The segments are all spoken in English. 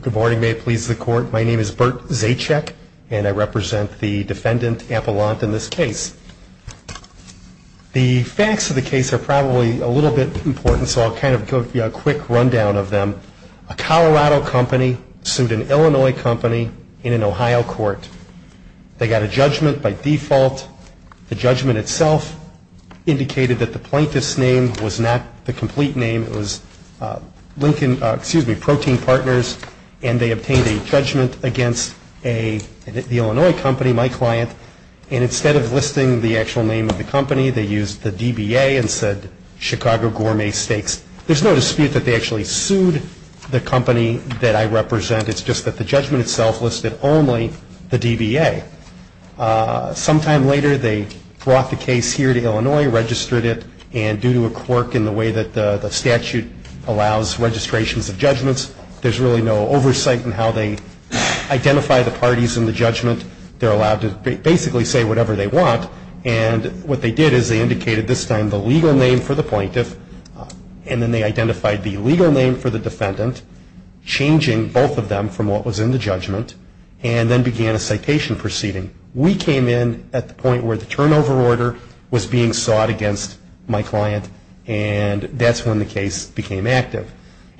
Good morning. May it please the Court. My name is Burt Zacek, and I represent the defendant, Appelant, in this case. The facts of the case are probably a little bit important, so I'll kind of give you a quick rundown of them. A Colorado company sued an Illinois company in an Ohio court. They got a judgment by default. The judgment itself indicated that the plaintiff's name was not the complete name. It was Lincoln, excuse me, Protein Partners, and they obtained a judgment against a, the Illinois company, my client, and instead of listing the actual name of the company, they used the DBA and said Chicago Gourmet Steaks. There's no dispute that they actually sued the company that I represent. It's just that the judgment itself listed only the DBA. Some time later, they brought the case here to Illinois, registered it, and due to a quirk in the way that the statute allows registrations of judgments, there's really no oversight in how they identify the parties in the judgment. They're allowed to basically say whatever they want, and what they did is they indicated this time the legal name for the plaintiff, and then they identified the legal name for the defendant, changing both of them from what was in the judgment, and then began a citation proceeding. We came in at the point where the turnover order was being sought against my client, and that's when the case became active.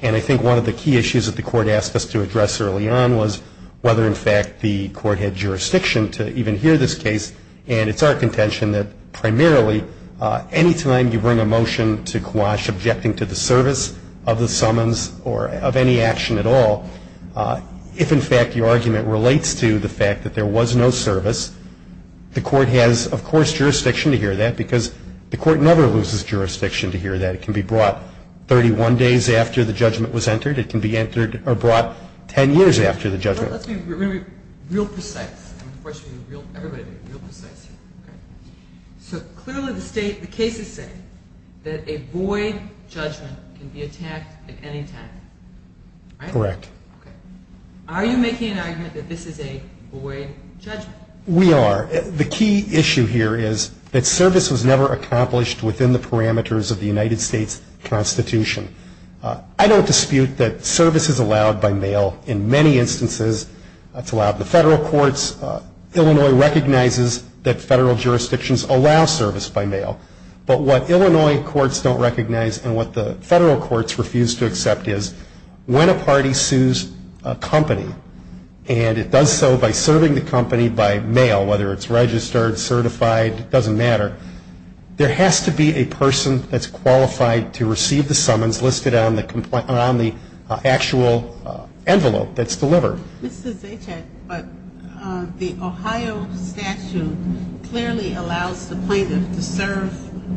And I think one of the key issues that the court asked us to address early on was whether in fact the court had jurisdiction to even hear this case, and it's our contention that primarily any time you bring a motion to quash objecting to the service of the summons or of any action at all, if in fact your argument relates to the fact that there was no objection to the service, the court has, of course, jurisdiction to hear that, because the court never loses jurisdiction to hear that. It can be brought 31 days after the judgment was entered. It can be entered or brought 10 years after the judgment. Let's be real precise. Everybody be real precise here. So clearly the state, the cases say that a void judgment can be attacked at any time, right? Correct. Okay. Are you making an argument that this is a void judgment? We are. The key issue here is that service was never accomplished within the parameters of the United States Constitution. I don't dispute that service is allowed by mail in many instances. It's allowed in the federal courts. Illinois recognizes that federal jurisdictions allow service by mail. But what Illinois courts don't recognize and what the federal courts refuse to accept is when a party sues a company and it does so by serving the company by mail, whether it's registered, certified, it doesn't matter, there has to be a person that's qualified to receive the summons listed on the actual envelope that's delivered. This is H. Ed, but the Ohio statute clearly allows the plaintiff to serve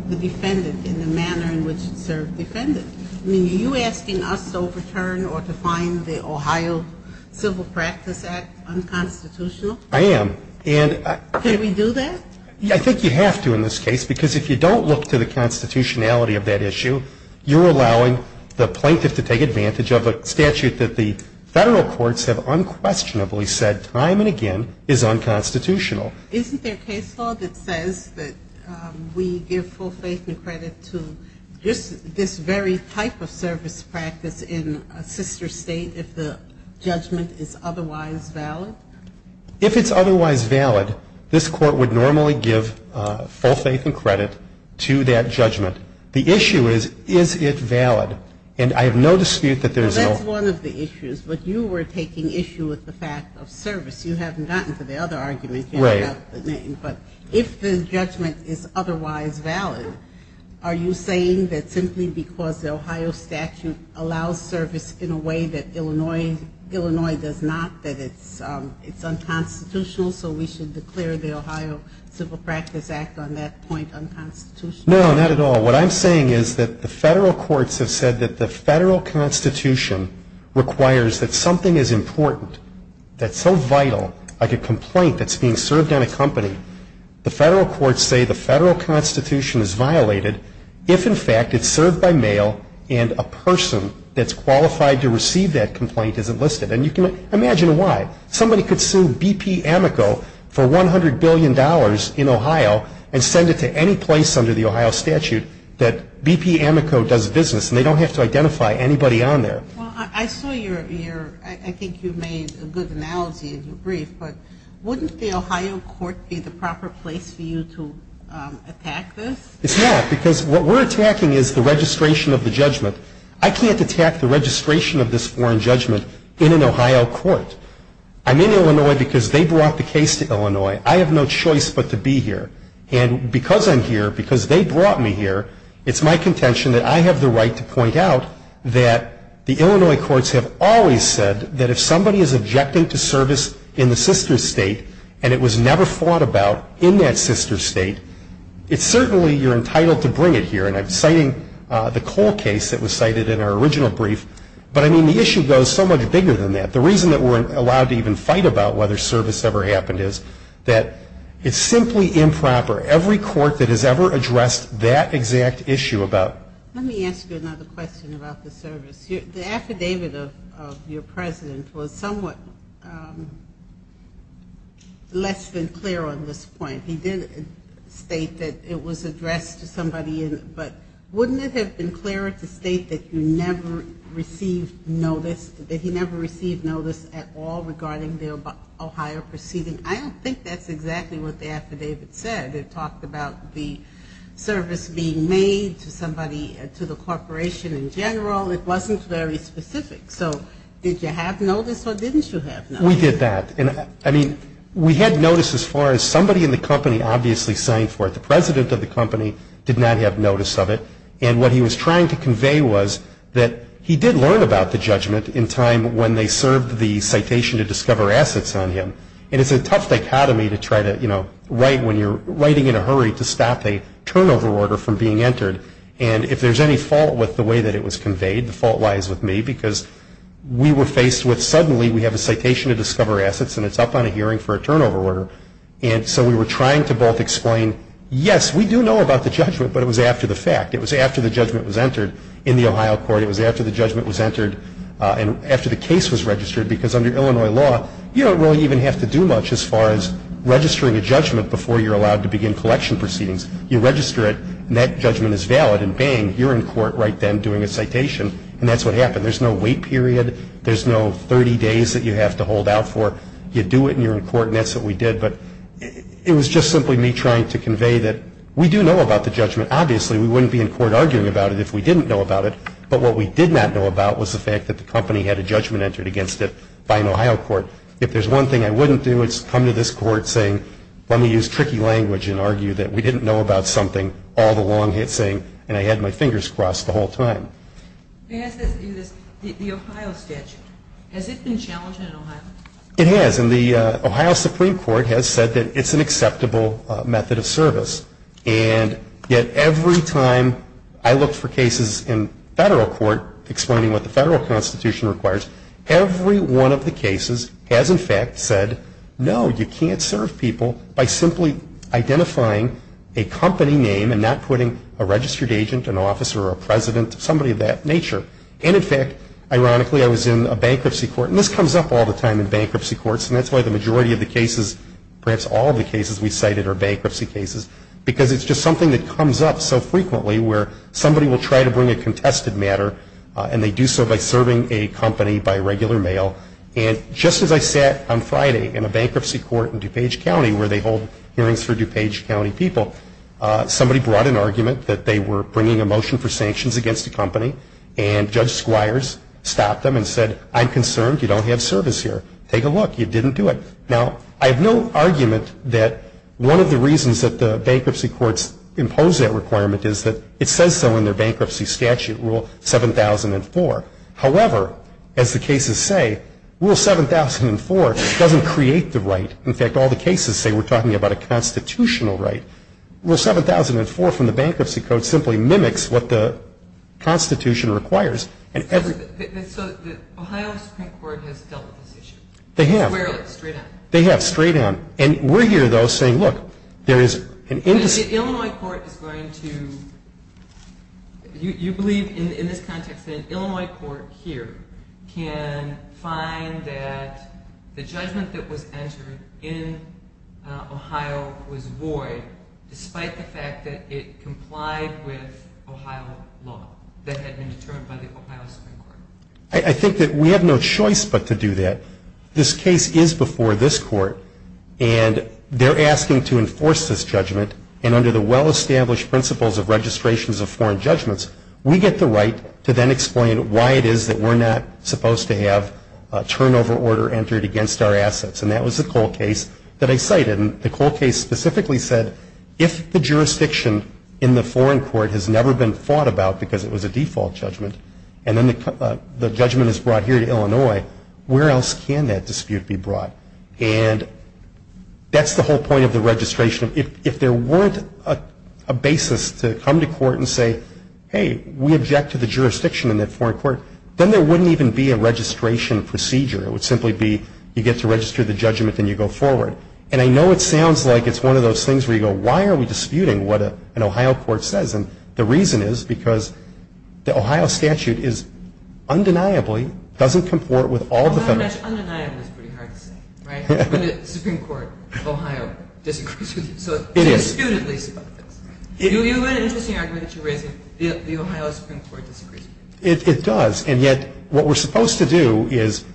the defendant in the manner in which it served the defendant. I mean, are you asking us to overturn or to find the Ohio Civil Practice Act unconstitutional? I am. And I Can we do that? I think you have to in this case, because if you don't look to the constitutionality of that issue, you're allowing the plaintiff to take advantage of a statute that the federal courts have unquestionably said time and again is unconstitutional. Isn't there case law that says that we give full faith and credit to this very type of service practice in a sister State if the judgment is otherwise valid? If it's otherwise valid, this Court would normally give full faith and credit to that judgment. The issue is, is it valid? And I have no dispute that there's no Well, that's one of the issues. But you were taking issue with the fact of service. You haven't gotten to the other argument yet. Right. But if the judgment is otherwise valid, are you saying that simply because the Ohio statute allows service in a way that Illinois does not, that it's unconstitutional, so we should declare the Ohio Civil Practice Act on that point unconstitutional? No, not at all. What I'm saying is that the federal courts have said that the federal constitution requires that something is important, that's so vital, like a complaint that's being served on a company, the federal courts say the federal constitution is violated if in fact it's served by mail and a person that's qualified to receive that complaint is enlisted. And you can imagine why. Somebody could sue BP Amico for $100 billion in Ohio and send it to any place under the Ohio statute that BP Amico does business and they don't have to identify anybody on there. Well, I saw your, I think you made a good analogy in your brief, but wouldn't the Ohio court be the proper place for you to attack this? It's not, because what we're attacking is the registration of the judgment. I can't attack the registration of this foreign judgment in an Ohio court. I'm in Illinois because they brought the case to Illinois. I have no choice but to be here. And because I'm here, because they brought me here, it's my contention that I have the doubt that the Illinois courts have always said that if somebody is objecting to service in the sister state and it was never fought about in that sister state, it's certainly you're entitled to bring it here. And I'm citing the Cole case that was cited in our original brief, but I mean, the issue goes so much bigger than that. The reason that we're allowed to even fight about whether service ever happened is that it's simply improper. Every court that has ever addressed that exact issue about. Let me ask you another question about the service. The affidavit of your president was somewhat less than clear on this point. He did state that it was addressed to somebody, but wouldn't it have been clearer to state that you never received notice, that he never received notice at all regarding the Ohio proceeding? I don't think that's exactly what the affidavit said. It talked about the service being made to somebody, to the corporation in general. It wasn't very specific. So did you have notice or didn't you have notice? We did that. And I mean, we had notice as far as somebody in the company obviously signed for it. The president of the company did not have notice of it. And what he was trying to convey was that he did learn about the judgment in time when they served the citation to discover assets on him. And it's a tough dichotomy to try to, you know, write when you're writing in a hurry to stop a turnover order from being entered. And if there's any fault with the way that it was conveyed, the fault lies with me, because we were faced with suddenly we have a citation to discover assets and it's up on a hearing for a turnover order. And so we were trying to both explain, yes, we do know about the judgment, but it was after the fact. It was after the judgment was entered in the Ohio court. It was after the judgment was entered and after the case was registered. Because under Illinois law, you don't really even have to do much as far as registering a judgment before you're allowed to begin collection proceedings. You register it, and that judgment is valid, and bang, you're in court right then doing a citation, and that's what happened. There's no wait period. There's no 30 days that you have to hold out for. You do it, and you're in court, and that's what we did. But it was just simply me trying to convey that we do know about the judgment. Obviously, we wouldn't be in court arguing about it if we didn't know about it. But what we did not know about was the fact that the company had a judgment entered against it by an Ohio court. If there's one thing I wouldn't do, it's come to this court saying, let me use tricky language and argue that we didn't know about something all along, saying, and I had my fingers crossed the whole time. The Ohio statute, has it been challenged in Ohio? It has, and the Ohio Supreme Court has said that it's an acceptable method of service. And yet every time I looked for cases in federal court explaining what the federal constitution requires, every one of the cases has in fact said, no, you can't serve people by simply identifying a company name and not putting a registered agent, an officer, or a president, somebody of that nature. And in fact, ironically, I was in a bankruptcy court, and this comes up all the time in bankruptcy courts, and that's why the majority of the cases, perhaps all of the cases we cited are bankruptcy cases, because it's just something that comes up so frequently where somebody will try to bring a contested matter, and they do so by serving a company by regular mail. And just as I sat on Friday in a bankruptcy court in DuPage County where they hold hearings for DuPage County people, somebody brought an argument that they were bringing a motion for sanctions against a company, and Judge Squires stopped them and said, I'm concerned you don't have service here. Take a look. You didn't do it. Now, I have no argument that one of the reasons that the bankruptcy courts impose that requirement is that it says so in their bankruptcy statute, Rule 7004. However, as the cases say, Rule 7004 doesn't create the right. In fact, all the cases say we're talking about a constitutional right. Rule 7004 from the bankruptcy code simply mimics what the Constitution requires. And every – So the Ohio Supreme Court has dealt with this issue? They have. Squarely, straight on? They have, straight on. The Illinois court is going to – you believe in this context that an Illinois court here can find that the judgment that was entered in Ohio was void despite the fact that it complied with Ohio law that had been determined by the Ohio Supreme Court? I think that we have no choice but to do that. This case is before this court, and they're asking to enforce this judgment, and under the well-established principles of registrations of foreign judgments, we get the right to then explain why it is that we're not supposed to have a turnover order entered against our assets. And that was the Cole case that I cited. And the Cole case specifically said, if the jurisdiction in the foreign court has never been fought about because it was a default judgment, and then the judgment is brought here to Illinois, where else can that dispute be brought? And that's the whole point of the registration. If there weren't a basis to come to court and say, hey, we object to the jurisdiction in that foreign court, then there wouldn't even be a registration procedure. It would simply be you get to register the judgment, then you go forward. And I know it sounds like it's one of those things where you go, why are we disputing what an Ohio court says? And the reason is because the Ohio statute is, undeniably, doesn't comport with all the federal statutes. But undeniably is pretty hard to say, right? When the Supreme Court of Ohio disagrees with you. It is. So it's disputed, at least. You have an interesting argument that you're raising, the Ohio Supreme Court disagrees with you. It does. And yet, what we're supposed to do is,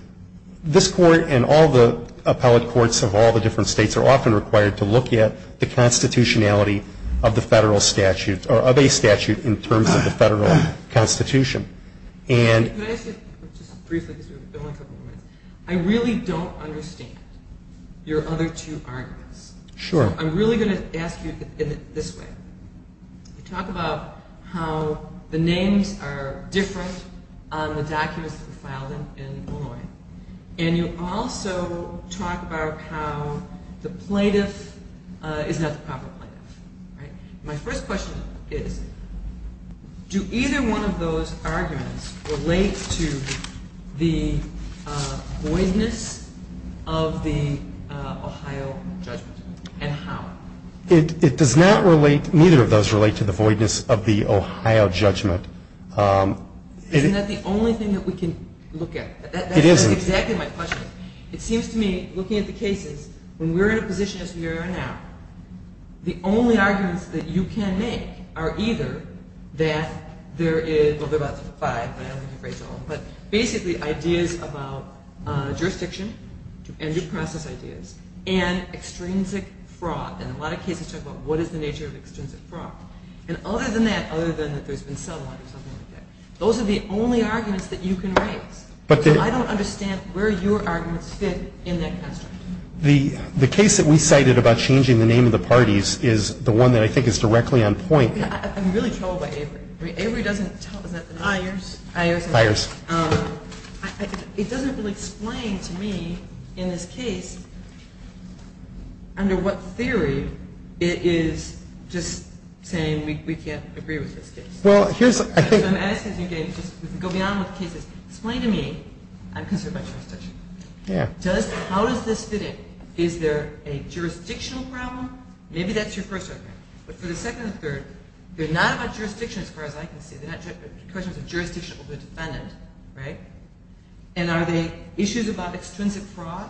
this court and all the appellate courts of all the different states are often required to look at the constitutionality of the federal statute or of a statute in terms of the federal constitution. And... Can I ask you, just briefly, because we only have a couple of minutes, I really don't understand your other two arguments. Sure. So I'm really going to ask you in this way. You talk about how the names are different on the documents that are filed in Illinois. And you also talk about how the plaintiff is not the proper plaintiff, right? My first question is, do either one of those arguments relate to the voidness of the Ohio judgment? And how? It does not relate, neither of those relate to the voidness of the Ohio judgment. Isn't that the only thing that we can look at? It is. That's exactly my question. It seems to me, looking at the cases, when we're in a position as we are now, the only arguments that you can make are either that there is, well there are about five, but basically ideas about jurisdiction and due process ideas and extrinsic fraud, and a lot of cases talk about what is the nature of extrinsic fraud. And other than that, other than that there's been sellout or something like that, those are the only arguments that you can raise. So I don't understand where your arguments fit in that construct. The case that we cited about changing the name of the parties is the one that I think is directly on point. I'm really troubled by Avery. Avery doesn't tell us that the name of the parties. Ayers. Ayers. It doesn't really explain to me, in this case, under what theory it is just saying we can't agree with this case. Well, here's, I think. So I'm asking you again, just to go beyond what the case is. Explain to me, I'm concerned about jurisdiction. Yeah. How does this fit in? Is there a jurisdictional problem? Maybe that's your first argument. But for the second and third, they're not about jurisdiction, as far as I can see. They're not questions of jurisdiction over the defendant, right? And are they issues about extrinsic fraud?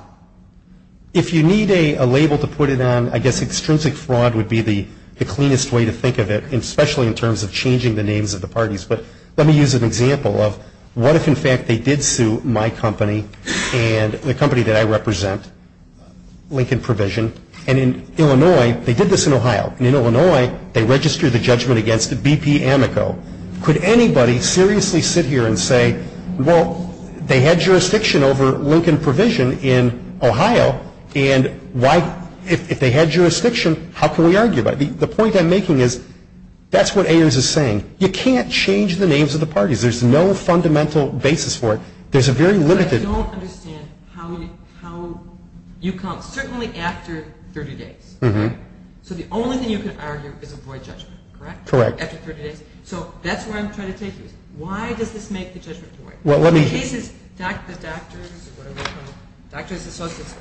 If you need a label to put it on, I guess extrinsic fraud would be the cleanest way to think of it, especially in terms of changing the names of the parties. But let me use an example of what if, in fact, they did sue my company and the company that I represent, Lincoln Provision, and in Illinois, they did this in Ohio, and in Illinois, they registered the judgment against BP Amico. Could anybody seriously sit here and say, well, they had jurisdiction over Lincoln Provision in Ohio, and why, if they had jurisdiction, how can we argue about it? The point I'm making is that's what Ayers is saying. You can't change the names of the parties. There's no fundamental basis for it. There's a very limited... But I don't understand how you count, certainly after 30 days, right? So the only thing you can argue is avoid judgment, correct? Correct. After 30 days. So that's where I'm trying to take you. Why does this make the judgment void? Well, let me... The case is, the doctors, whatever, doctors associates,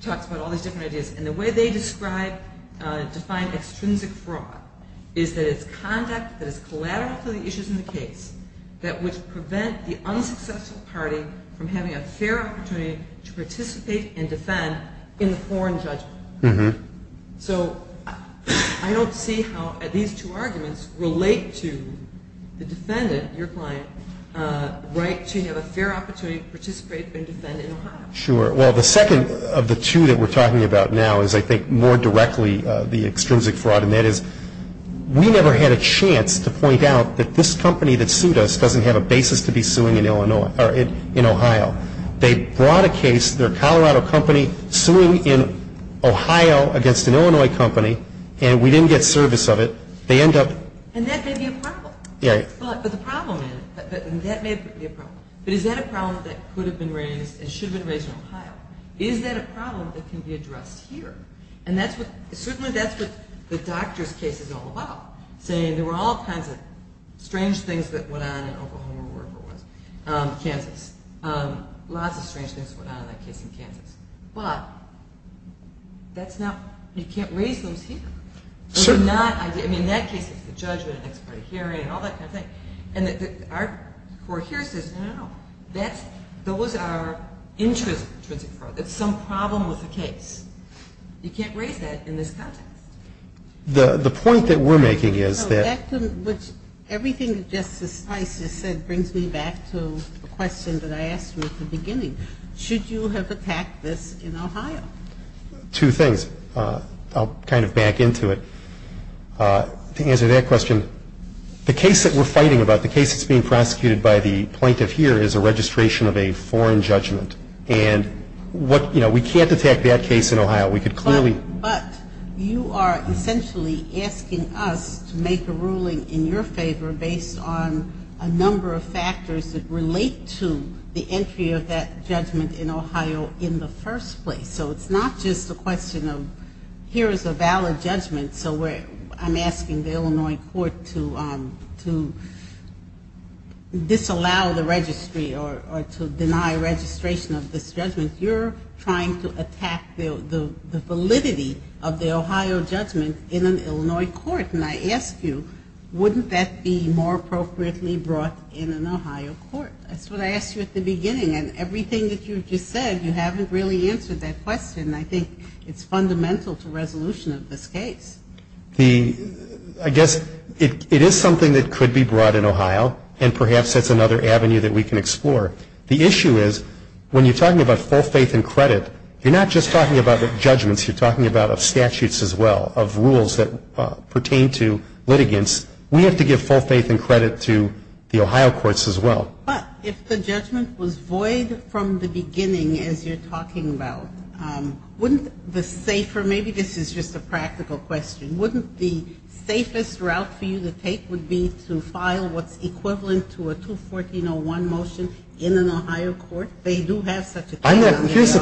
talks about all these different ideas, and the way they describe, define extrinsic fraud is that it's conduct that is collateral for the issues in the case that would prevent the unsuccessful party from having a fair opportunity to participate and defend in the foreign judgment. So I don't see how these two arguments relate to the defendant, your client, right to have a fair opportunity to participate and defend in Ohio. Sure. Well, the second of the two that we're talking about now is, I think, more directly the extrinsic fraud. And that is, we never had a chance to point out that this company that sued us doesn't have a basis to be suing in Ohio. They brought a case, their Colorado company, suing in Ohio against an Illinois company, and we didn't get service of it, they end up... And that may be a problem. Yeah. But the problem is, that may be a problem. Is that a problem that can be addressed here? And that's what, certainly that's what the doctor's case is all about, saying there were all kinds of strange things that went on in Oklahoma or wherever it was, Kansas, lots of strange things went on in that case in Kansas. But that's not, you can't raise those here. Sure. They're not, I mean, in that case it's the judgment, the next part of hearing, and all that kind of thing. And our court here says, no, no, no, that's, those are intrinsic fraud. It's some problem with the case. You can't raise that in this context. The point that we're making is that... Which, everything that Justice Spicer said brings me back to the question that I asked you at the beginning. Should you have attacked this in Ohio? Two things. I'll kind of back into it. To answer that question, the case that we're fighting about, the case that's being prosecuted by the plaintiff here is a registration of a foreign judgment. And what, you know, we can't attack that case in Ohio. We could clearly... But you are essentially asking us to make a ruling in your favor based on a number of factors that relate to the entry of that judgment in Ohio in the first place. So it's not just a question of, here is a valid judgment. So I'm asking the Illinois court to disallow the registry or to deny registration of this judgment. You're trying to attack the validity of the Ohio judgment in an Illinois court. And I ask you, wouldn't that be more appropriately brought in an Ohio court? That's what I asked you at the beginning. And everything that you just said, you haven't really answered that question. And I think it's fundamental to resolution of this case. I guess it is something that could be brought in Ohio. And perhaps that's another avenue that we can explore. The issue is, when you're talking about full faith and credit, you're not just talking about judgments. You're talking about statutes as well, of rules that pertain to litigants. We have to give full faith and credit to the Ohio courts as well. But if the judgment was void from the beginning, as you're talking about, wouldn't the safer, maybe this is just a practical question, wouldn't the safest route for you to take would be to file what's equivalent to a 214.01 motion in an Ohio court? They do have such a thing in the Office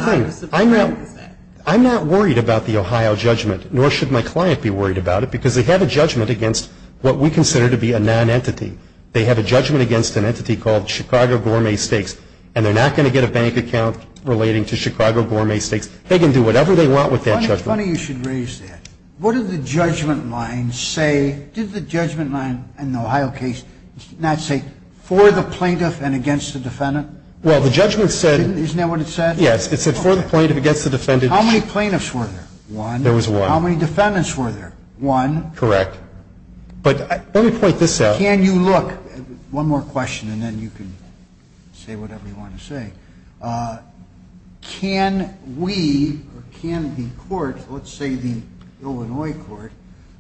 of Justice Act. I'm not worried about the Ohio judgment, nor should my client be worried about it, because they have a judgment against what we consider to be a non-entity. They have a judgment against an entity called Chicago Gourmet Steaks. And they're not going to get a bank account relating to Chicago Gourmet Steaks. They can do whatever they want with that judgment. It's funny you should raise that. What did the judgment line say? Did the judgment line in the Ohio case not say for the plaintiff and against the defendant? Well, the judgment said- Isn't that what it said? Yes, it said for the plaintiff, against the defendant. How many plaintiffs were there? One. There was one. How many defendants were there? One. Correct. But let me point this out. Can you look- One more question, and then you can say whatever you want to say. Can we, or can the court, let's say the Illinois court,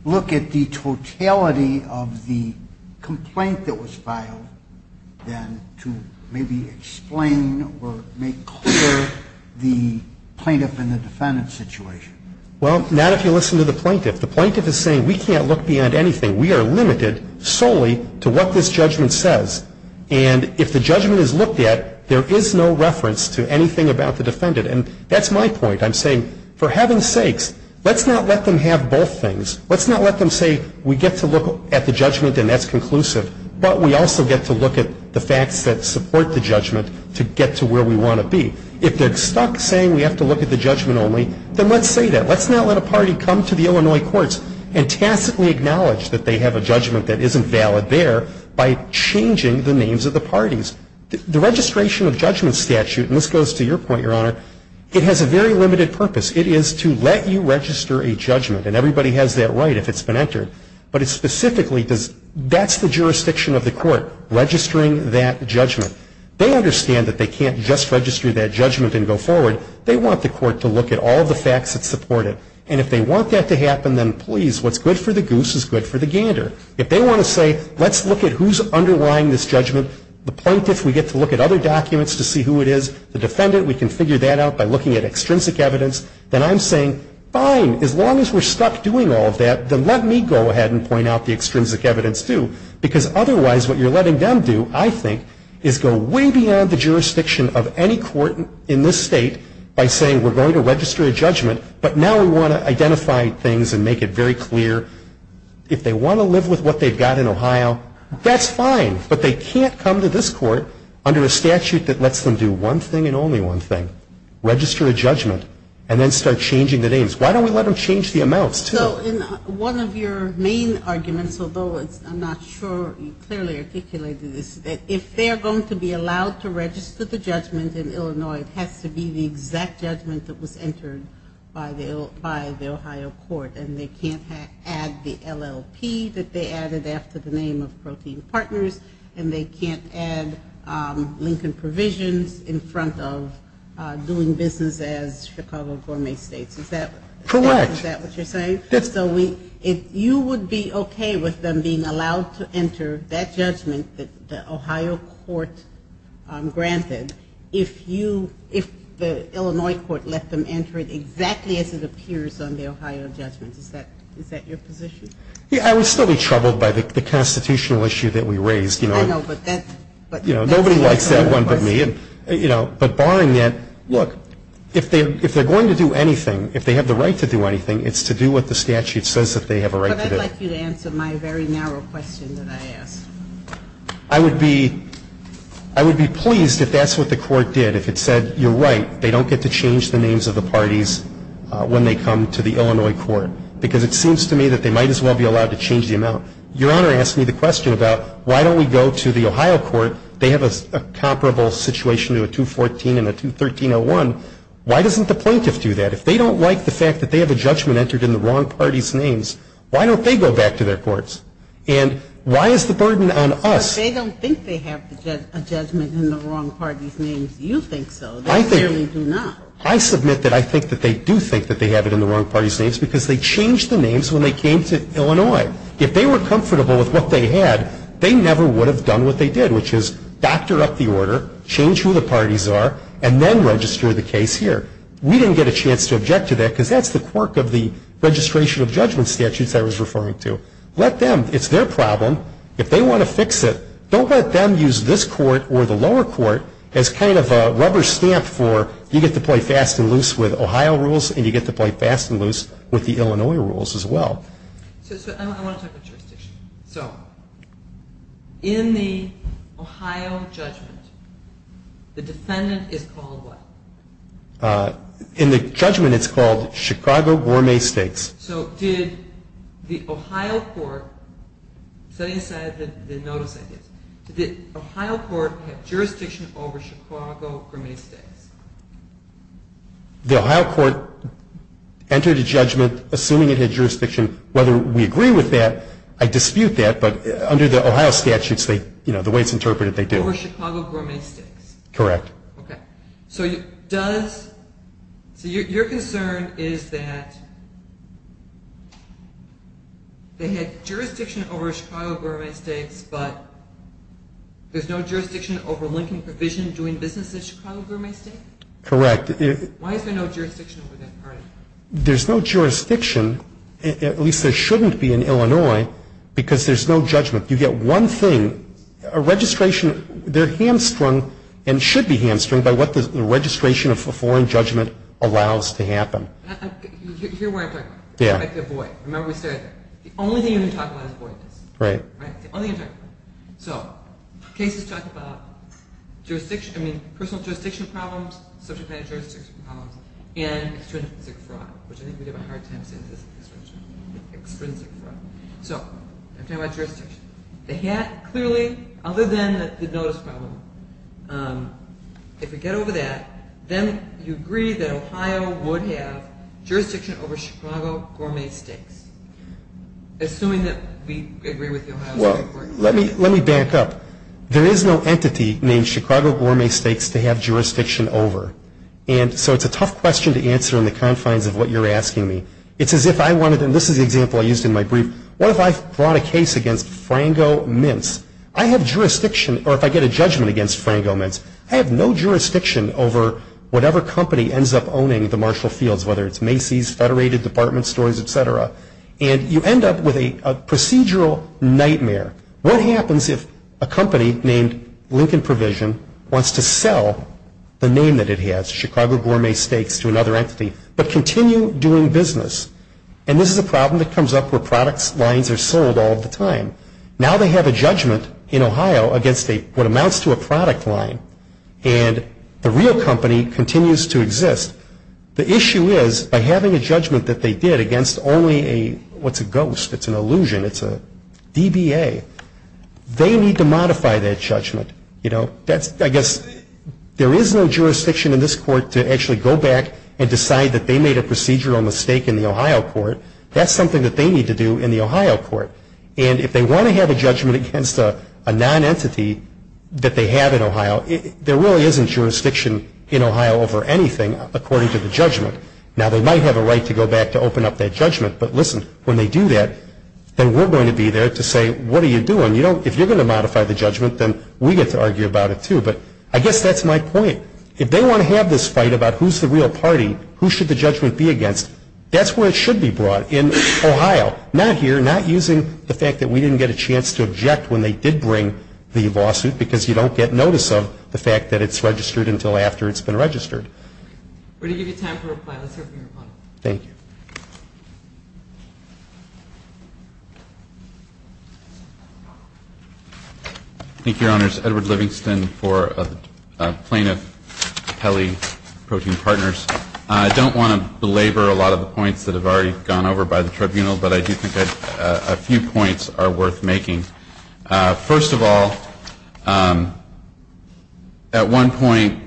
look at the totality of the complaint that was filed, then to maybe explain or make clear the plaintiff and the defendant's situation? Well, not if you listen to the plaintiff. The plaintiff is saying, we can't look beyond anything. We are limited solely to what this judgment says. And if the judgment is looked at, there is no reference to anything about the defendant. And that's my point. I'm saying, for heaven's sakes, let's not let them have both things. Let's not let them say, we get to look at the judgment and that's conclusive, but we also get to look at the facts that support the judgment to get to where we want to be. If they're stuck saying we have to look at the judgment only, then let's say that. Let's not let a party come to the Illinois courts and tacitly acknowledge that they have a judgment that isn't valid there by changing the names of the parties. The registration of judgment statute, and this goes to your point, your honor, it has a very limited purpose. It is to let you register a judgment, and everybody has that right if it's been entered. But it specifically does, that's the jurisdiction of the court, registering that judgment. They understand that they can't just register that judgment and go forward. They want the court to look at all of the facts that support it. And if they want that to happen, then please, what's good for the goose is good for the gander. If they want to say, let's look at who's underlying this judgment. The plaintiff, we get to look at other documents to see who it is. The defendant, we can figure that out by looking at extrinsic evidence. Then I'm saying, fine, as long as we're stuck doing all of that, then let me go ahead and point out the extrinsic evidence too. Because otherwise, what you're letting them do, I think, is go way beyond the jurisdiction of any court in this state by saying, we're going to register a judgment, but now we want to identify things and make it very clear. If they want to live with what they've got in Ohio, that's fine. But they can't come to this court under a statute that lets them do one thing and only one thing, register a judgment, and then start changing the names. Why don't we let them change the amounts too? One of your main arguments, although I'm not sure you clearly articulated this, that if they're going to be allowed to register the judgment in Illinois, it has to be the exact judgment that was entered by the Ohio court. And they can't add the LLP that they added after the name of Protein Partners. And they can't add Lincoln provisions in front of doing business as Chicago Gourmet States. Is that what you're saying? If you would be okay with them being allowed to enter that judgment that the Ohio court granted, if you, if the Illinois court let them enter it exactly as it appears on the Ohio judgment, is that your position? Yeah, I would still be troubled by the constitutional issue that we raised. I know, but that's another question. Nobody likes that one but me. But barring that, look, if they're going to do anything, if they have the right to do anything, it's to do what the statute says that they have a right to do. But I'd like you to answer my very narrow question that I asked. I would be pleased if that's what the court did. If it said, you're right, they don't get to change the names of the parties when they come to the Illinois court. Because it seems to me that they might as well be allowed to change the amount. Your Honor asked me the question about why don't we go to the Ohio court? They have a comparable situation to a 214 and a 213-01. Why doesn't the plaintiff do that? If they don't like the fact that they have a judgment entered in the wrong party's names, why don't they go back to their courts? And why is the burden on us? But they don't think they have a judgment in the wrong party's names. You think so. They clearly do not. I submit that I think that they do think that they have it in the wrong party's names because they changed the names when they came to Illinois. If they were comfortable with what they had, they never would have done what they did, which is doctor up the order, change who the parties are, and then register the case here. We didn't get a chance to object to that because that's the quirk of the registration of judgment statutes I was referring to. Let them. It's their problem. If they want to fix it, don't let them use this court or the lower court as kind of a rubber stamp for you get to play fast and loose with Ohio rules and you get to play fast and loose with the Illinois rules as well. So I want to talk about jurisdiction. So in the Ohio judgment, the defendant is called what? In the judgment, it's called Chicago Gourmet Steaks. So did the Ohio court, setting aside the notice ideas, did the Ohio court have jurisdiction over Chicago Gourmet Steaks? The Ohio court entered a judgment assuming it had jurisdiction. Whether we agree with that, I dispute that. But under the Ohio statutes, you know, the way it's interpreted, they do. Over Chicago Gourmet Steaks? Correct. Okay. So does, so your concern is that they had jurisdiction over Chicago Gourmet Steaks but there's no jurisdiction over Lincoln Provision doing business at Chicago Gourmet Steaks? Correct. Why is there no jurisdiction over that? There's no jurisdiction, at least there shouldn't be in Illinois, because there's no judgment. You get one thing, a registration, they're hamstrung and should be hamstrung by what the registration of a foreign judgment allows to happen. You hear what I'm talking about? Yeah. It's like a void. Remember we started there. The only thing you can talk about is voidness. Right. Right, that's the only thing I'm talking about. So cases talk about jurisdiction, I mean, personal jurisdiction problems, subject matter jurisdiction problems, and extrinsic fraud, which I think we have a hard time saying this, extrinsic fraud. So I'm talking about jurisdiction. They had clearly, other than the notice problem, if we get over that, then you agree that Ohio would have jurisdiction over Chicago Gourmet Steaks, assuming that we agree with the Ohio State Court. Well, let me back up. There is no entity named Chicago Gourmet Steaks to have jurisdiction over, and so it's a tough question to answer in the confines of what you're asking me. It's as if I wanted, and this is the example I used in my brief, what if I brought a case against Frango Mince? I have jurisdiction, or if I get a judgment against Frango Mince, I have no jurisdiction over whatever company ends up owning the Marshall Fields, whether it's Macy's, Federated Department Stores, etc. And you end up with a procedural nightmare. What happens if a company named Lincoln Provision wants to sell the name that it has, Chicago Gourmet Steaks, to another entity, but continue doing business? And this is a problem that comes up where products lines are sold all the time. Now they have a judgment in Ohio against what amounts to a product line, and the real company continues to exist. The issue is, by having a judgment that they did against only a, what's a ghost? It's an illusion. It's a DBA. They need to modify that judgment. You know, that's, I guess, there is no jurisdiction in this court to actually go back and decide that they made a procedural mistake in the Ohio court. That's something that they need to do in the Ohio court. And if they want to have a judgment against a non-entity that they have in Ohio, there really isn't jurisdiction in Ohio over anything according to the judgment. Now they might have a right to go back to open up that judgment, but listen, when they do that, then we're going to be there to say, what are you doing? You don't, if you're going to modify the judgment, then we get to argue about it too, but I guess that's my point. If they want to have this fight about who's the real party, who should the judgment be against, that's where it should be brought, in Ohio. Not here, not using the fact that we didn't get a chance to object when they did bring the lawsuit, because you don't get notice of the fact that it's registered until after it's been registered. We're going to give you time for a reply. Let's hear from your opponent. Thank you. Thank you, Your Honors. Edward Livingston for Plaintiff Peli Protein Partners. I don't want to belabor a lot of the points that have already gone over by the tribunal, but I do think a few points are worth making. First of all, at one point,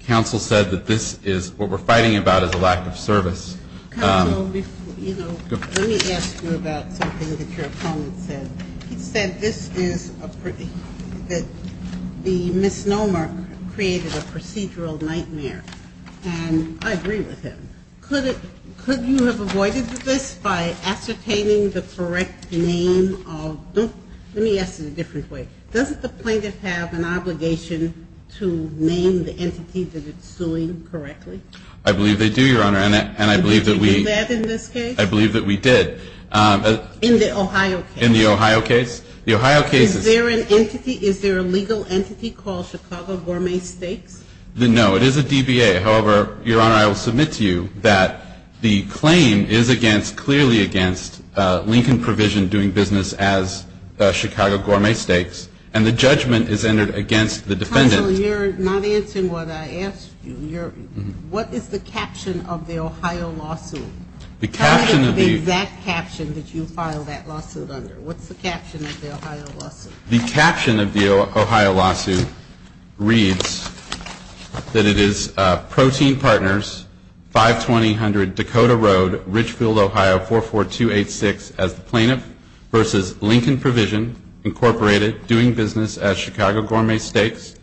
counsel said that this is, what we're fighting about is a lack of service. Counsel, let me ask you about something that your opponent said. He said this is a, that the misnomer created a procedural nightmare. And I agree with him. Could you have avoided this by ascertaining the correct name of, let me ask it a different way. Doesn't the plaintiff have an obligation to name the entity that it's suing correctly? I believe they do, Your Honor, and I believe that we- Did you do that in this case? I believe that we did. In the Ohio case? In the Ohio case. The Ohio case is- Is there an entity, is there a legal entity called Chicago Gourmet Steaks? No, it is a DBA. However, Your Honor, I will submit to you that the claim is against, clearly against Lincoln Provision doing business as Chicago Gourmet Steaks. And the judgment is entered against the defendant. Counsel, you're not answering what I asked you. What is the caption of the Ohio lawsuit? The caption of the- Tell me the exact caption that you filed that lawsuit under. What's the caption of the Ohio lawsuit? The caption of the Ohio lawsuit reads that it is Protein Partners, 5200 Dakota Road, Richfield, Ohio, 44286, as the plaintiff versus Lincoln Provision, Incorporated, doing business as Chicago Gourmet Steaks,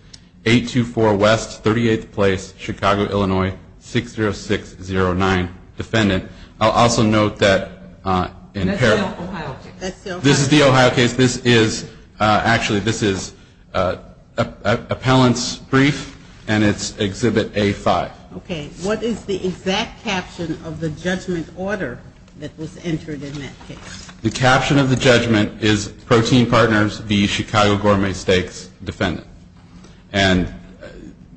824 West 38th Place, Chicago, Illinois, 60609, defendant. I'll also note that- That's the Ohio case. This is the Ohio case. Actually, this is appellant's brief, and it's Exhibit A5. Okay, what is the exact caption of the judgment order that was entered in that case? The caption of the judgment is Protein Partners v. Chicago Gourmet Steaks, defendant. And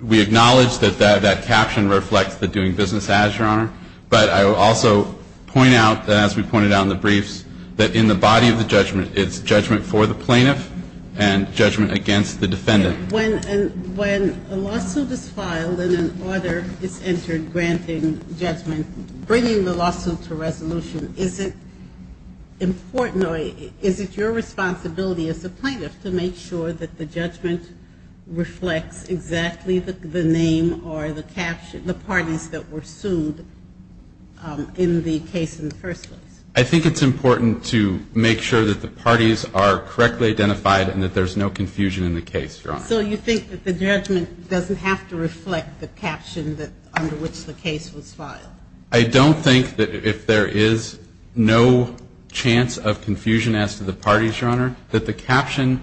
we acknowledge that that caption reflects the doing business as, Your Honor. But I will also point out, as we pointed out in the briefs, that in the body of the judgment, it's judgment for the plaintiff and judgment against the defendant. When a lawsuit is filed and an order is entered granting judgment, bringing the lawsuit to resolution, is it important, or is it your responsibility as the plaintiff to make sure that the judgment reflects exactly the name or the parties that were sued in the case in the first place? I think it's important to make sure that the parties are correctly identified and that there's no confusion in the case, Your Honor. So you think that the judgment doesn't have to reflect the caption under which the case was filed? I don't think that if there is no chance of confusion as to the parties, Your Honor, that the caption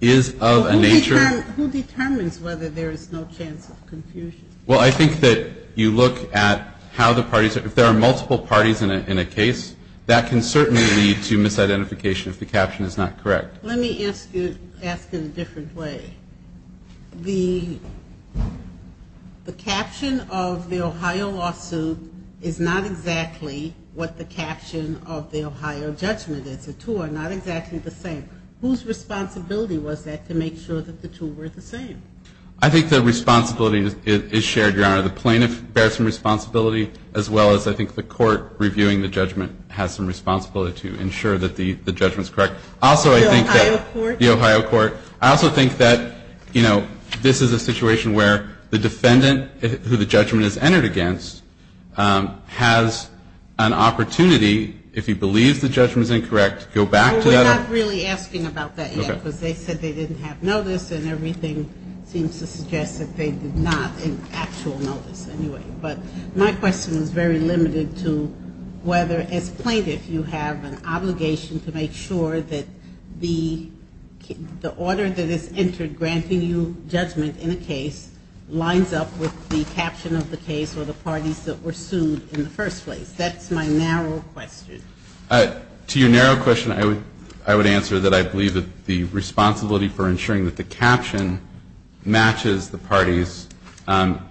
is of a nature- Who determines whether there is no chance of confusion? Well, I think that you look at how the parties, if there are multiple parties in a case, that can certainly lead to misidentification if the caption is not correct. Let me ask you, ask in a different way. The caption of the Ohio lawsuit is not exactly what the caption of the Ohio judgment is. The two are not exactly the same. Whose responsibility was that to make sure that the two were the same? I think the responsibility is shared, Your Honor. The plaintiff bears some responsibility as well as, I think, the court reviewing the judgment has some responsibility to ensure that the judgment's correct. Also, I think that- The Ohio court? The Ohio court. I also think that this is a situation where the defendant, who the judgment is entered against, has an opportunity, if he believes the judgment's incorrect, to go back to that- Well, we're not really asking about that yet because they said they didn't have notice and everything seems to suggest that they did not in actual notice anyway. But my question is very limited to whether, as plaintiff, you have an obligation to make sure that the order that is entered granting you judgment in a case lines up with the caption of the case or the parties that were sued in the first place. That's my narrow question. To your narrow question, I would answer that I believe that the responsibility for making sure that the caption matches the parties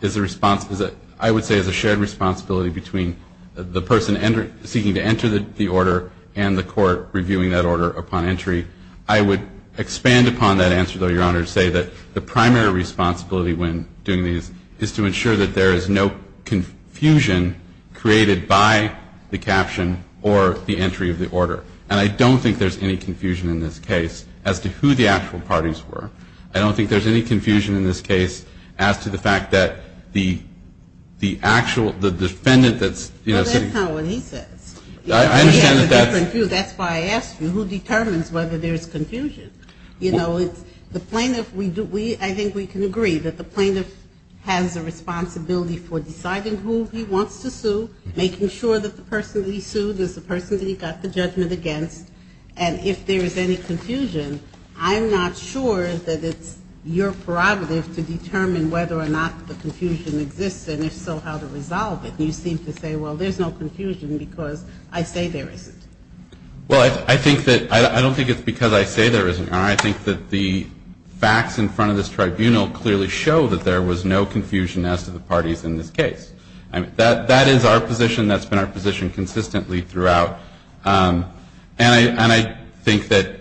is a response, I would say, is a shared responsibility between the person seeking to enter the order and the court reviewing that order upon entry. I would expand upon that answer, though, Your Honor, to say that the primary responsibility when doing these is to ensure that there is no confusion created by the caption or the entry of the order, and I don't think there's any confusion in this case as to who the actual parties were. I don't think there's any confusion in this case as to the fact that the actual, the defendant that's, you know- Well, that's not what he says. I understand that that's- That's why I asked you, who determines whether there's confusion? You know, the plaintiff, I think we can agree that the plaintiff has a responsibility for deciding who he wants to sue, making sure that the person that he sued is the person that he got the judgment against. And if there is any confusion, I'm not sure that it's your prerogative to determine whether or not the confusion exists, and if so, how to resolve it. You seem to say, well, there's no confusion because I say there isn't. Well, I think that, I don't think it's because I say there isn't, Your Honor. I think that the facts in front of this tribunal clearly show that there was no confusion as to the parties in this case. I mean, that is our position. That's been our position consistently throughout. And I think that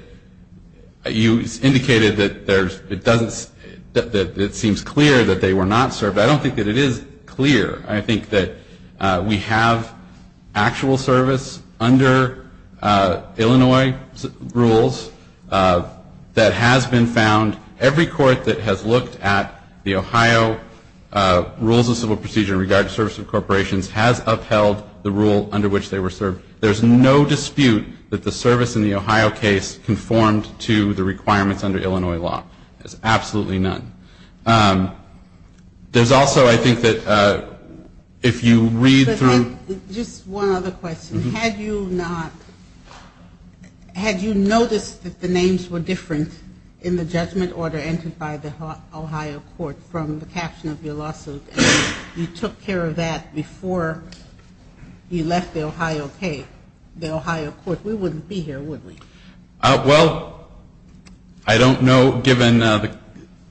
you indicated that it seems clear that they were not served. I don't think that it is clear. I think that we have actual service under Illinois rules that has been found. Every court that has looked at the Ohio rules of civil procedure in regard to service of corporations has upheld the rule under which they were served. There's no dispute that the service in the Ohio case conformed to the requirements under Illinois law. There's absolutely none. There's also, I think that if you read through. Just one other question. Had you not, had you noticed that the names were different in the judgment order entered by the Ohio court from the caption of your lawsuit and you took care of that before you left the Ohio case, the Ohio court, we wouldn't be here, would we? Well, I don't know, given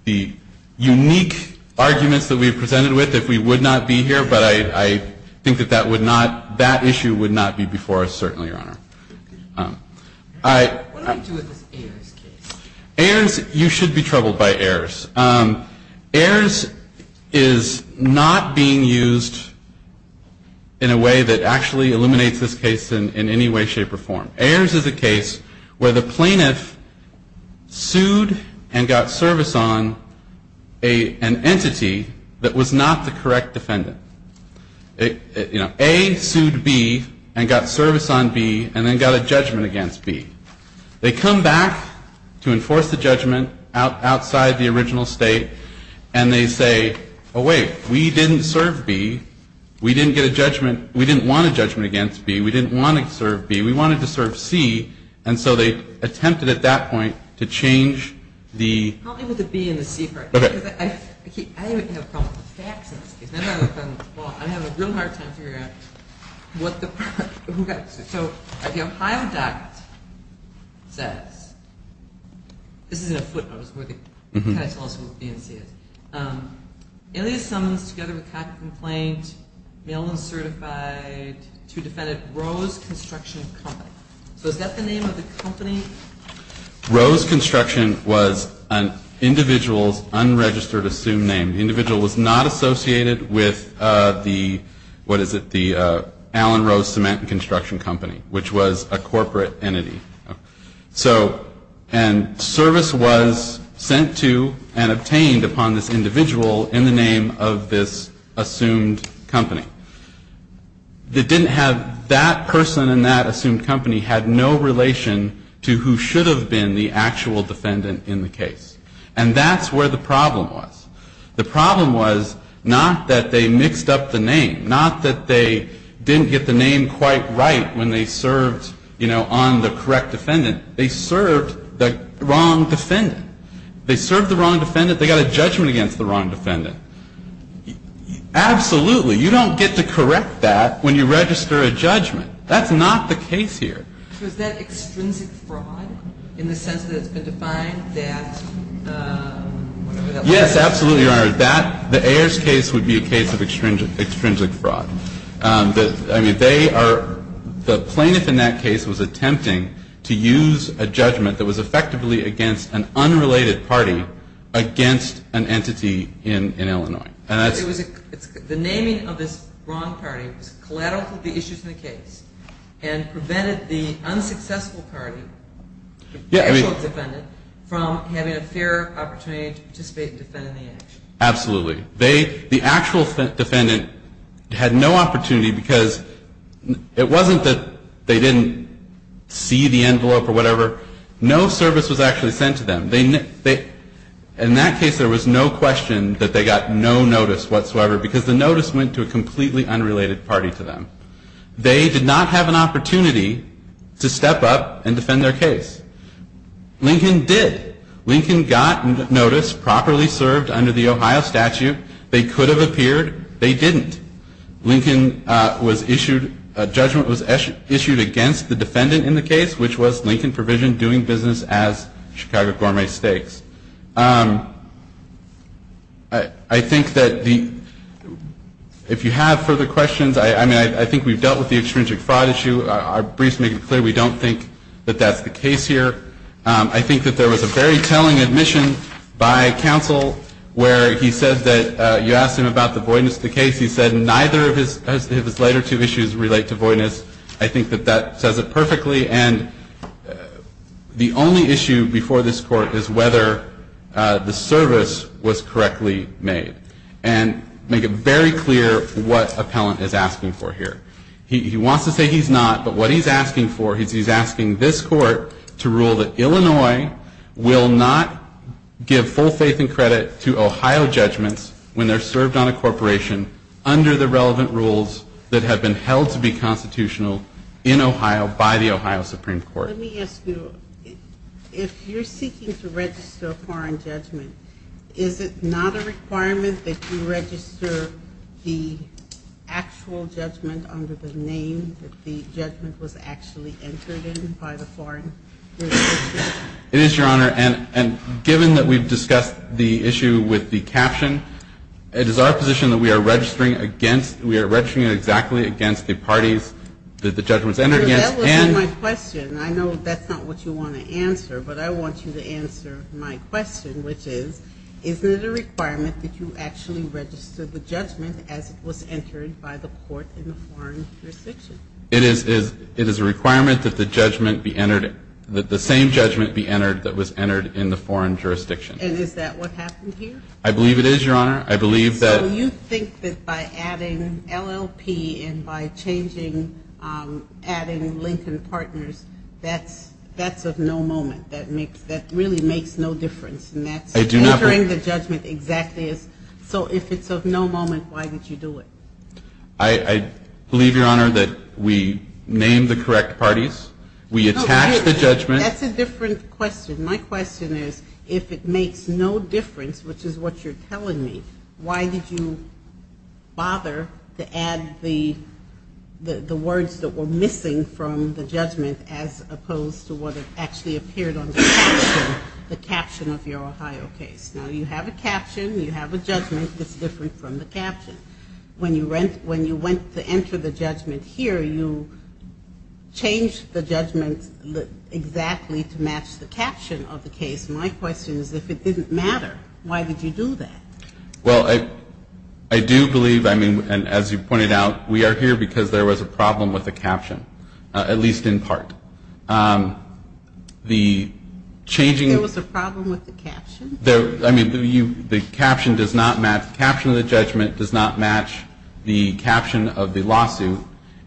the unique arguments that we've presented with, if we would not be here, but I think that that would not, that issue would not be before us, certainly, Your Honor. What do I do with this Ayers case? Ayers, you should be troubled by Ayers. Ayers is not being used in a way that actually eliminates this case in any way, shape, or form. Ayers is a case where the plaintiff sued and got service on an entity that was not the correct defendant. You know, A sued B and got service on B and then got a judgment against B. They come back to enforce the judgment outside the original state and they say, oh, wait. We didn't serve B. We didn't get a judgment. We didn't want a judgment against B. We didn't want to serve B. We wanted to serve C. And so they attempted at that point to change the. Help me with the B and the C part. Okay. Because I keep, I don't even have a problem with the facts in this case. I have a real hard time figuring out what the, who got. So the Ohio Doctrine says, this is in a footnote, where they kind of tell us what B and C is. Alias summons together with copy complaint, mail-in certified, to defendant Rose Construction Company. So is that the name of the company? Rose Construction was an individual's unregistered assumed name. The individual was not associated with the, what is it, Allen Rose Cement and Construction Company, which was a corporate entity. So, and service was sent to and obtained upon this individual in the name of this assumed company. It didn't have, that person and that assumed company had no relation to who should have been the actual defendant in the case. And that's where the problem was. The problem was not that they mixed up the name. Not that they didn't get the name quite right when they served, you know, on the correct defendant. They served the wrong defendant. They served the wrong defendant. They got a judgment against the wrong defendant. Absolutely. You don't get to correct that when you register a judgment. That's not the case here. So is that extrinsic fraud in the sense that it's been defined that, whatever that was? Yes, absolutely, Your Honor. That, the Ayers case would be a case of extrinsic fraud. I mean, they are, the plaintiff in that case was attempting to use a judgment that was effectively against an unrelated party against an entity in Illinois. And that's It was a, the naming of this wrong party was collateral to the issues in the case and prevented the unsuccessful party, the actual defendant, from having a fair opportunity to participate and defend in the action. Absolutely. They, the actual defendant, had no opportunity because it wasn't that they didn't see the envelope or whatever. No service was actually sent to them. They, in that case, there was no question that they got no notice whatsoever because the notice went to a completely unrelated party to them. They did not have an opportunity to step up and defend their case. Lincoln did. Lincoln got notice, properly served under the Ohio statute. They could have appeared. They didn't. Lincoln was issued, a judgment was issued against the defendant in the case, which was Lincoln provisioned doing business as Chicago Gourmet Steaks. I think that the, if you have further questions, I mean, I think we've dealt with the extrinsic fraud issue. Our briefs make it clear we don't think that that's the case here. I think that there was a very telling admission by counsel where he said that you asked him about the voidness of the case. He said neither of his later two issues relate to voidness. I think that that says it perfectly. And the only issue before this court is whether the service was correctly made. And make it very clear what appellant is asking for here. He wants to say he's not, but what he's asking for, to rule that Illinois will not give full faith and credit to Ohio judgments when they're served on a corporation under the relevant rules that have been held to be constitutional in Ohio by the Ohio Supreme Court. Let me ask you, if you're seeking to register a foreign judgment, is it not a requirement that you register the actual judgment under the name that the judgment was actually entered in by the foreign jurisdiction? It is, Your Honor. And given that we've discussed the issue with the caption, it is our position that we are registering against, we are registering it exactly against the parties that the judgment's entered against, and That wasn't my question. I know that's not what you want to answer, but I want you to answer my question, which is, isn't it a requirement that you actually register the judgment as it was entered by the court in the foreign jurisdiction? It is a requirement that the judgment be entered, that the same judgment be entered that was entered in the foreign jurisdiction. And is that what happened here? I believe it is, Your Honor. I believe that. So you think that by adding LLP and by adding Lincoln Partners, that's of no moment. That really makes no difference. And that's entering the judgment exactly as. So if it's of no moment, why did you do it? I believe, Your Honor, that we named the correct parties. We attacked the judgment. That's a different question. My question is, if it makes no difference, which is what you're telling me, why did you bother to add the words that were missing from the judgment as opposed to what actually appeared on the caption, the caption of your Ohio case? Now, you have a caption, you have a judgment that's different from the caption. When you went to enter the judgment here, you changed the judgment exactly to match the caption of the case. My question is, if it didn't matter, why did you do that? Well, I do believe, I mean, and as you pointed out, we are here because there was a problem with the caption, at least in part. The changing. There was a problem with the caption? I mean, the caption does not match, the caption of the judgment does not match the caption of the lawsuit.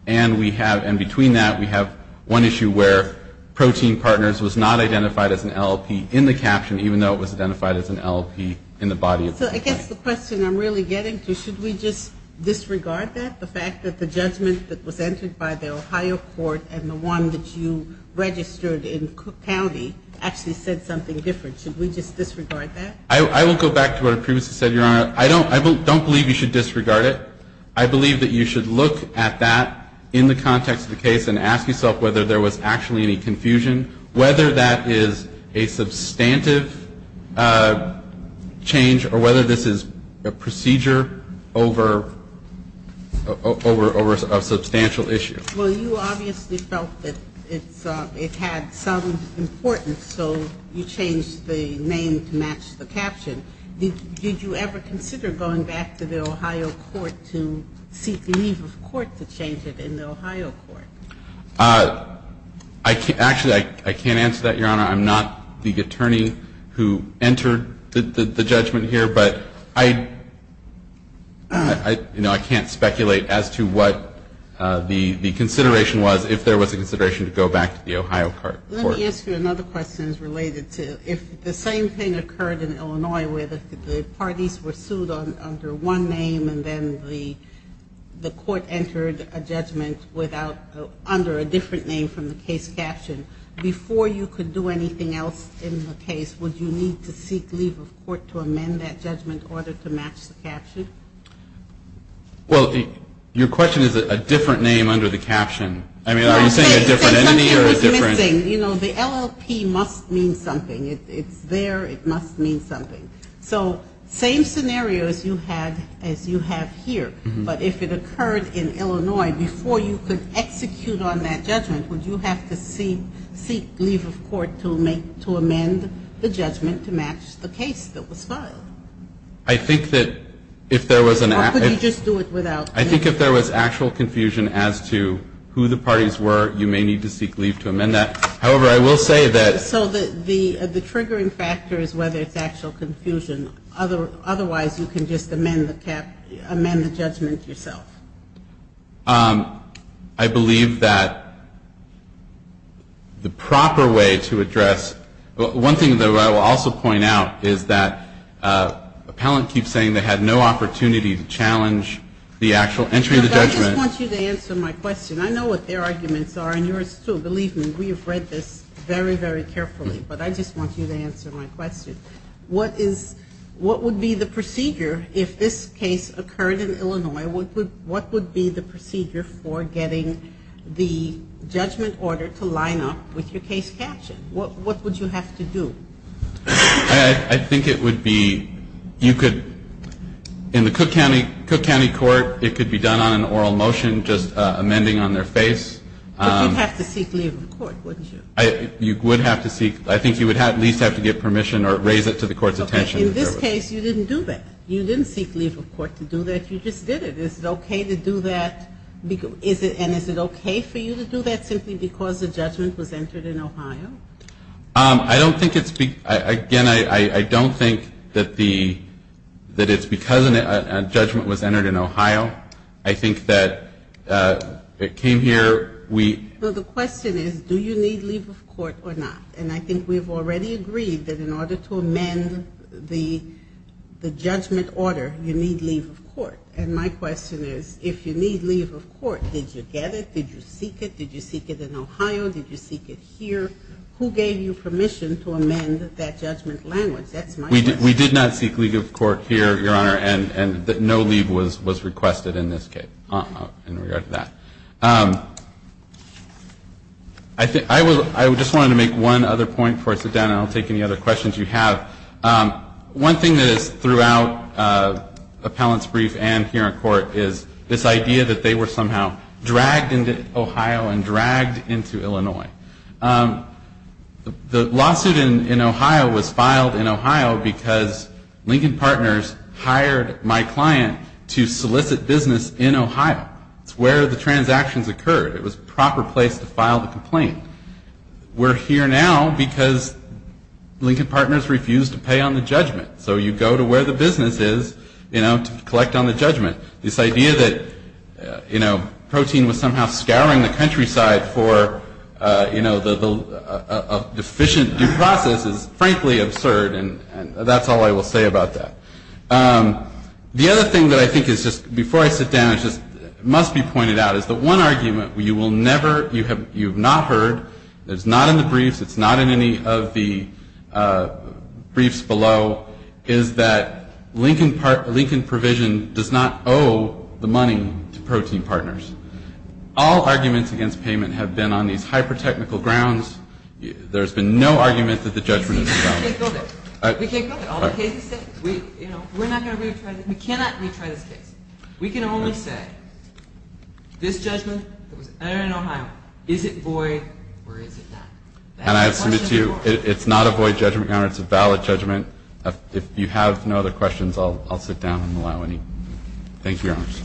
And we have, and between that, we have one issue where protein partners was not identified as an LLP in the caption, even though it was identified as an LLP in the body. So I guess the question I'm really getting to, should we just disregard that? The fact that the judgment that was entered by the Ohio court and the one that you registered in Cook County actually said something different. Should we just disregard that? I will go back to what I previously said, Your Honor. I don't believe you should disregard it. I believe that you should look at that in the context of the case and ask yourself whether there was actually any confusion, whether that is a substantive change or whether this is a procedure over a substantial issue. Well, you obviously felt that it had some importance, so you changed the name to match the caption. Did you ever consider going back to the Ohio court to seek leave of court to change it in the Ohio court? Actually, I can't answer that, Your Honor. I'm not the attorney who entered the judgment here, but I, you know, I can't speculate as to what the consideration was, if there was a consideration to go back to the Ohio court. Let me ask you another question related to if the same thing occurred in Illinois where the parties were sued under one name and then the court entered a judgment under a different name from the case caption, before you could do anything else in the case, would you need to seek leave of court to amend that judgment order to match the caption? I mean, are you saying a different entity or a different? You know, the LLP must mean something. It's there. It must mean something. So, same scenario as you have here, but if it occurred in Illinois, before you could execute on that judgment, would you have to seek leave of court to amend the judgment to match the case that was filed? I think that if there was an actual. Or could you just do it without? I think if there was actual confusion as to who the parties were, you may need to seek leave to amend that. However, I will say that. So, the triggering factor is whether it's actual confusion. Otherwise, you can just amend the judgment yourself. I believe that the proper way to address. One thing that I will also point out is that appellant keeps saying they had no opportunity to challenge the actual entry of the judgment. I just want you to answer my question. I know what their arguments are and yours too. Believe me, we have read this very, very carefully. But I just want you to answer my question. What is. What would be the procedure if this case occurred in Illinois? What would be the procedure for getting the judgment order to line up with your case caption? What would you have to do? I think it would be. You could. In the Cook County Court, it could be done on an oral motion. Just amending on their face. But you'd have to seek leave of court, wouldn't you? You would have to seek. I think you would at least have to get permission or raise it to the court's attention. In this case, you didn't do that. You didn't seek leave of court to do that. You just did it. Is it okay to do that? And is it okay for you to do that simply because the judgment was entered in Ohio? I don't think it's. Again, I don't think that the. That it's because a judgment was entered in Ohio. I think that it came here. We. Well, the question is, do you need leave of court or not? And I think we've already agreed that in order to amend the judgment order, you need leave of court. And my question is, if you need leave of court, did you get it? Did you seek it? Did you seek it in Ohio? Did you seek it here? Who gave you permission to amend that judgment language? That's my question. We did not seek leave of court here, Your Honor. And no leave was requested in this case in regard to that. I just wanted to make one other point before I sit down and I'll take any other questions you have. One thing that is throughout appellant's brief and here in court is this idea that they were somehow dragged into Ohio and dragged into Illinois. The lawsuit in Ohio was filed in Ohio because Lincoln Partners hired my client to solicit business in Ohio. It's where the transactions occurred. It was a proper place to file the complaint. We're here now because Lincoln Partners refused to pay on the judgment. So you go to where the business is to collect on the judgment. This idea that, you know, protein was somehow scouring the countryside for, you know, a deficient due process is frankly absurd and that's all I will say about that. The other thing that I think is just, before I sit down, it just must be pointed out is the one argument you will never, you have not heard, it's not in the briefs, it's not in any of the briefs below, is that Lincoln provision does not owe the money to protein partners. All arguments against payment have been on these hyper-technical grounds. There's been no argument that the judgment is valid. We can't build it. All the cases say, you know, we're not going to retry this. We cannot retry this case. We can only say, this judgment that was entered in Ohio, is it void or is it not? And I have submitted to you, it's not a void judgment counter. It's a valid judgment. If you have no other questions, I'll sit down and allow any. Thank you, Your Honors.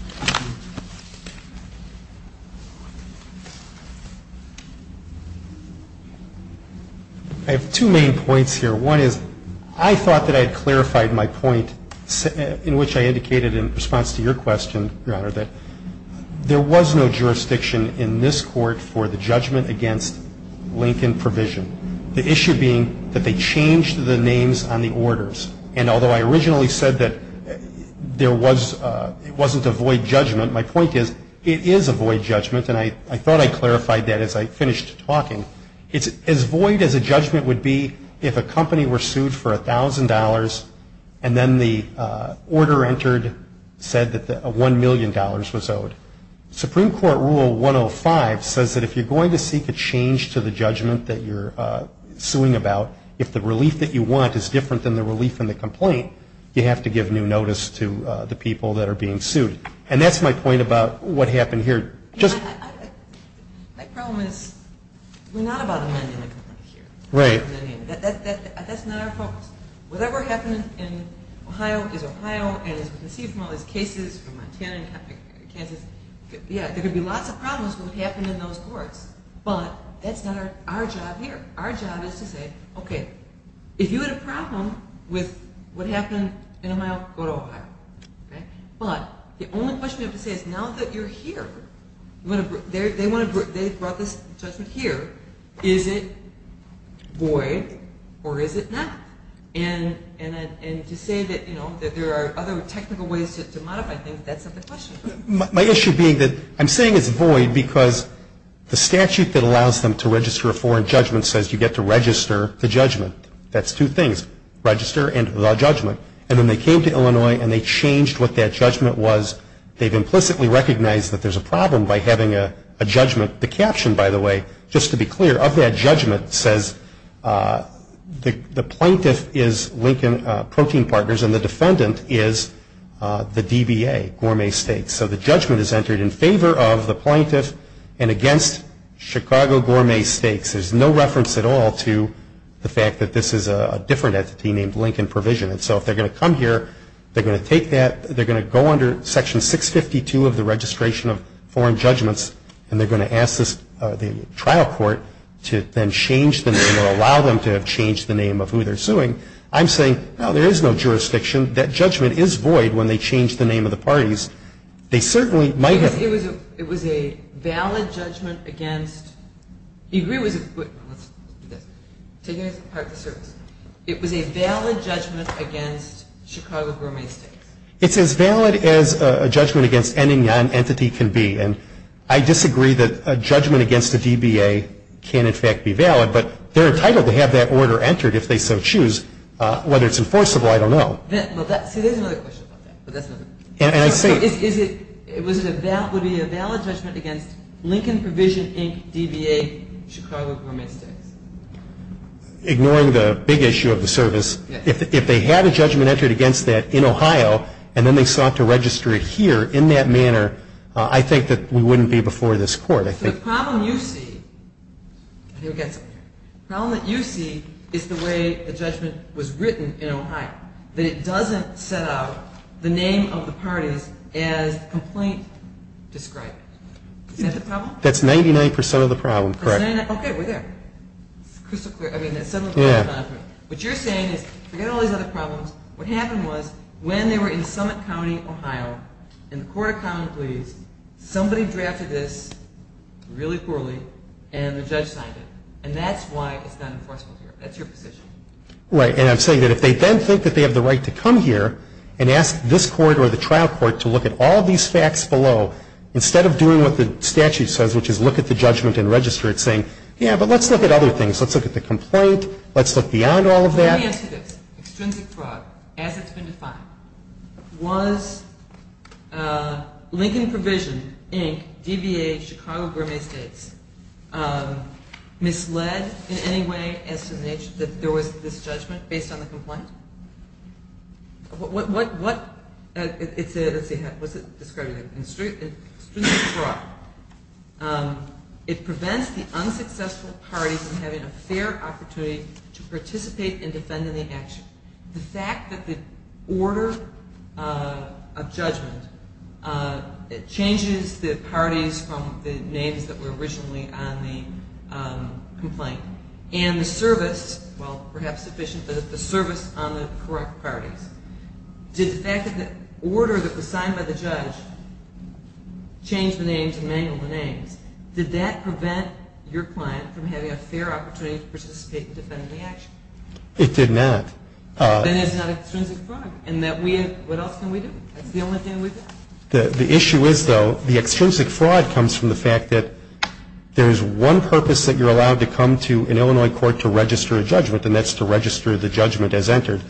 I have two main points here. One is, I thought that I had clarified my point in which I indicated in response to your question, Your Honor, that there was no jurisdiction in this court for the judgment against Lincoln provision. The issue being that they changed the names on the orders. And although I originally said that it wasn't a void judgment, my point is, it is a void judgment. And I thought I clarified that as I finished talking. It's as void as a judgment would be if a company were sued for $1,000 and then the order entered said that $1 million was owed. Supreme Court Rule 105 says that if you're going to seek a change to the judgment that you're suing about, if the relief that you want is different than the relief in the complaint, you have to give new notice to the people that are being sued. And that's my point about what happened here. Just- My problem is, we're not about amending the complaint here. Right. That's not our focus. Whatever happened in Ohio is Ohio and is conceived from all these cases from Montana and Kansas. Yeah, there could be lots of problems with what happened in those courts, but that's not our job here. Our job is to say, okay, if you had a problem with what happened in Ohio, go to Ohio, okay? But the only question I have to say is now that you're here, they brought this judgment here, is it void or is it not? And to say that there are other technical ways to modify things, that's not the question. My issue being that I'm saying it's void because the statute that allows them to register a foreign judgment says you get to register the judgment. That's two things, register and allow judgment. And when they came to Illinois and they changed what that judgment was, they've implicitly recognized that there's a problem by having a judgment. The caption, by the way, just to be clear, of that judgment says the plaintiff is Lincoln Protein Partners and the defendant is the DBA, Gourmet Steaks. So the judgment is entered in favor of the plaintiff and against Chicago Gourmet Steaks. There's no reference at all to the fact that this is a different entity named Lincoln Provision. And so if they're going to come here, they're going to take that, they're going to go under section 652 of the registration of foreign judgments. And they're going to ask the trial court to then change the name or I'm saying, no, there is no jurisdiction. That judgment is void when they change the name of the parties. They certainly might have- It was a valid judgment against, you agree it was a, let's do this. Taking it apart for the service. It was a valid judgment against Chicago Gourmet Steaks. It's as valid as a judgment against any non-entity can be. But they're entitled to have that order entered if they so choose. Whether it's enforceable, I don't know. See, there's another question about that, but that's another- And I say- Is it, was it a valid, would it be a valid judgment against Lincoln Provision, Inc., DBA, Chicago Gourmet Steaks? Ignoring the big issue of the service, if they had a judgment entered against that in Ohio, and then they sought to register it here in that manner, I think that we wouldn't be before this court, I think. The problem you see, I think we've got something here. The problem that you see is the way the judgment was written in Ohio, that it doesn't set out the name of the parties as the complaint described. Is that the problem? That's 99% of the problem, correct. 99, okay, we're there. Crystal clear, I mean, that's several- Yeah. What you're saying is, forget all these other problems. What happened was, when they were in Summit County, Ohio, in the court of appeals, really poorly, and the judge signed it. And that's why it's not enforceable here. That's your position. Right, and I'm saying that if they then think that they have the right to come here and ask this court or the trial court to look at all these facts below, instead of doing what the statute says, which is look at the judgment and register it, saying, yeah, but let's look at other things. Let's look at the complaint. Let's look beyond all of that. Let me answer this. Extrinsic fraud, as it's been defined, was Lincoln Provision, Inc., DBA, Chicago, Gramey States, misled in any way as to the nature that there was this judgment based on the complaint? What, what, what, it's a, let's see, how, what's it describing? Extrinsic fraud. It prevents the unsuccessful parties from having a fair opportunity to participate and defend in the action. The fact that the order of judgment, it changes the parties from the names that were originally on the complaint, and the service, well, perhaps sufficient, but the service on the correct parties. Did the fact that the order that was signed by the judge change the names and mangle the names, did that prevent your client from having a fair opportunity to participate and defend in the action? It did not. Then it's not extrinsic fraud, in that we, what else can we do? That's the only thing we can do. The, the issue is, though, the extrinsic fraud comes from the fact that there's one purpose that you're allowed to come to an Illinois court to register a judgment, and that's to register the judgment as entered.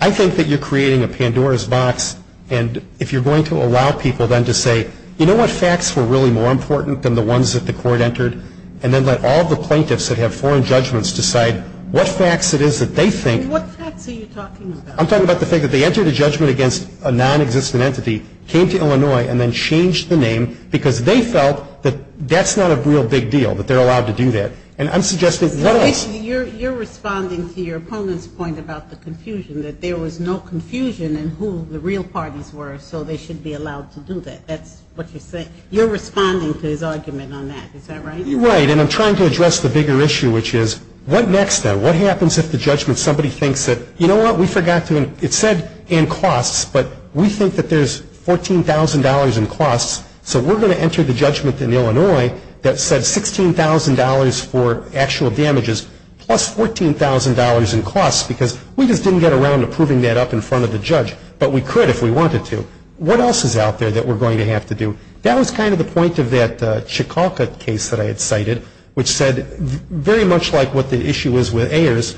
I think that you're creating a Pandora's box, and if you're going to allow people then to say, you know what, facts were really more important than the ones that the court entered, and then let all the plaintiffs that have foreign judgments decide what facts it is that they think. And what facts are you talking about? I'm talking about the fact that they entered a judgment against a non-existent entity, came to Illinois, and then changed the name because they felt that that's not a real big deal, that they're allowed to do that. And I'm suggesting, what else? You're, you're responding to your opponent's point about the confusion, that there was no confusion in who the real parties were, so they should be allowed to do that. That's what you're saying. You're responding to his argument on that, is that right? Right, and I'm trying to address the bigger issue, which is, what next then? What happens if the judgment, somebody thinks that, you know what, we forgot to, it said, and costs, but we think that there's $14,000 in costs, so we're going to enter the judgment in Illinois that said $16,000 for actual damages, plus $14,000 in costs, because we just didn't get around to proving that up in front of the judge, but we could if we wanted to. What else is out there that we're going to have to do? That was kind of the point of that Chikalka case that I had cited, which said, very much like what the issue is with Ayers,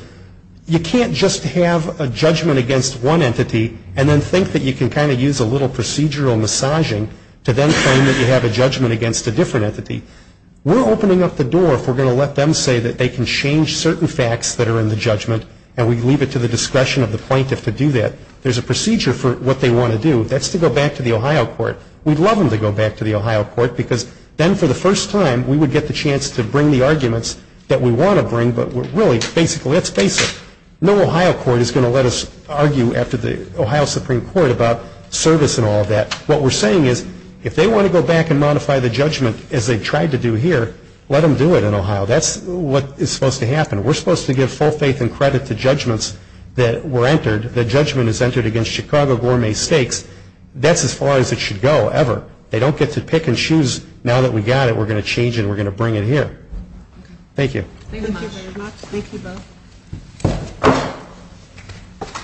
you can't just have a judgment against one entity, and then think that you can kind of use a little procedural massaging to then claim that you have a judgment against a different entity. We're opening up the door if we're going to let them say that they can change certain facts that are in the judgment, and we leave it to the discretion of the plaintiff to do that. There's a procedure for what they want to do. That's to go back to the Ohio court. We'd love them to go back to the Ohio court, because then for the first time, we would get the chance to bring the arguments that we want to bring, but really, basically, let's face it. No Ohio court is going to let us argue after the Ohio Supreme Court about service and all of that. What we're saying is, if they want to go back and modify the judgment as they tried to do here, let them do it in Ohio. That's what is supposed to happen. We're supposed to give full faith and credit to judgments that were entered, that judgment is entered against Chicago Gourmet Steaks. That's as far as it should go, ever. They don't get to pick and choose. Now that we got it, we're going to change it, and we're going to bring it here. Thank you. Thank you very much. Thank you both.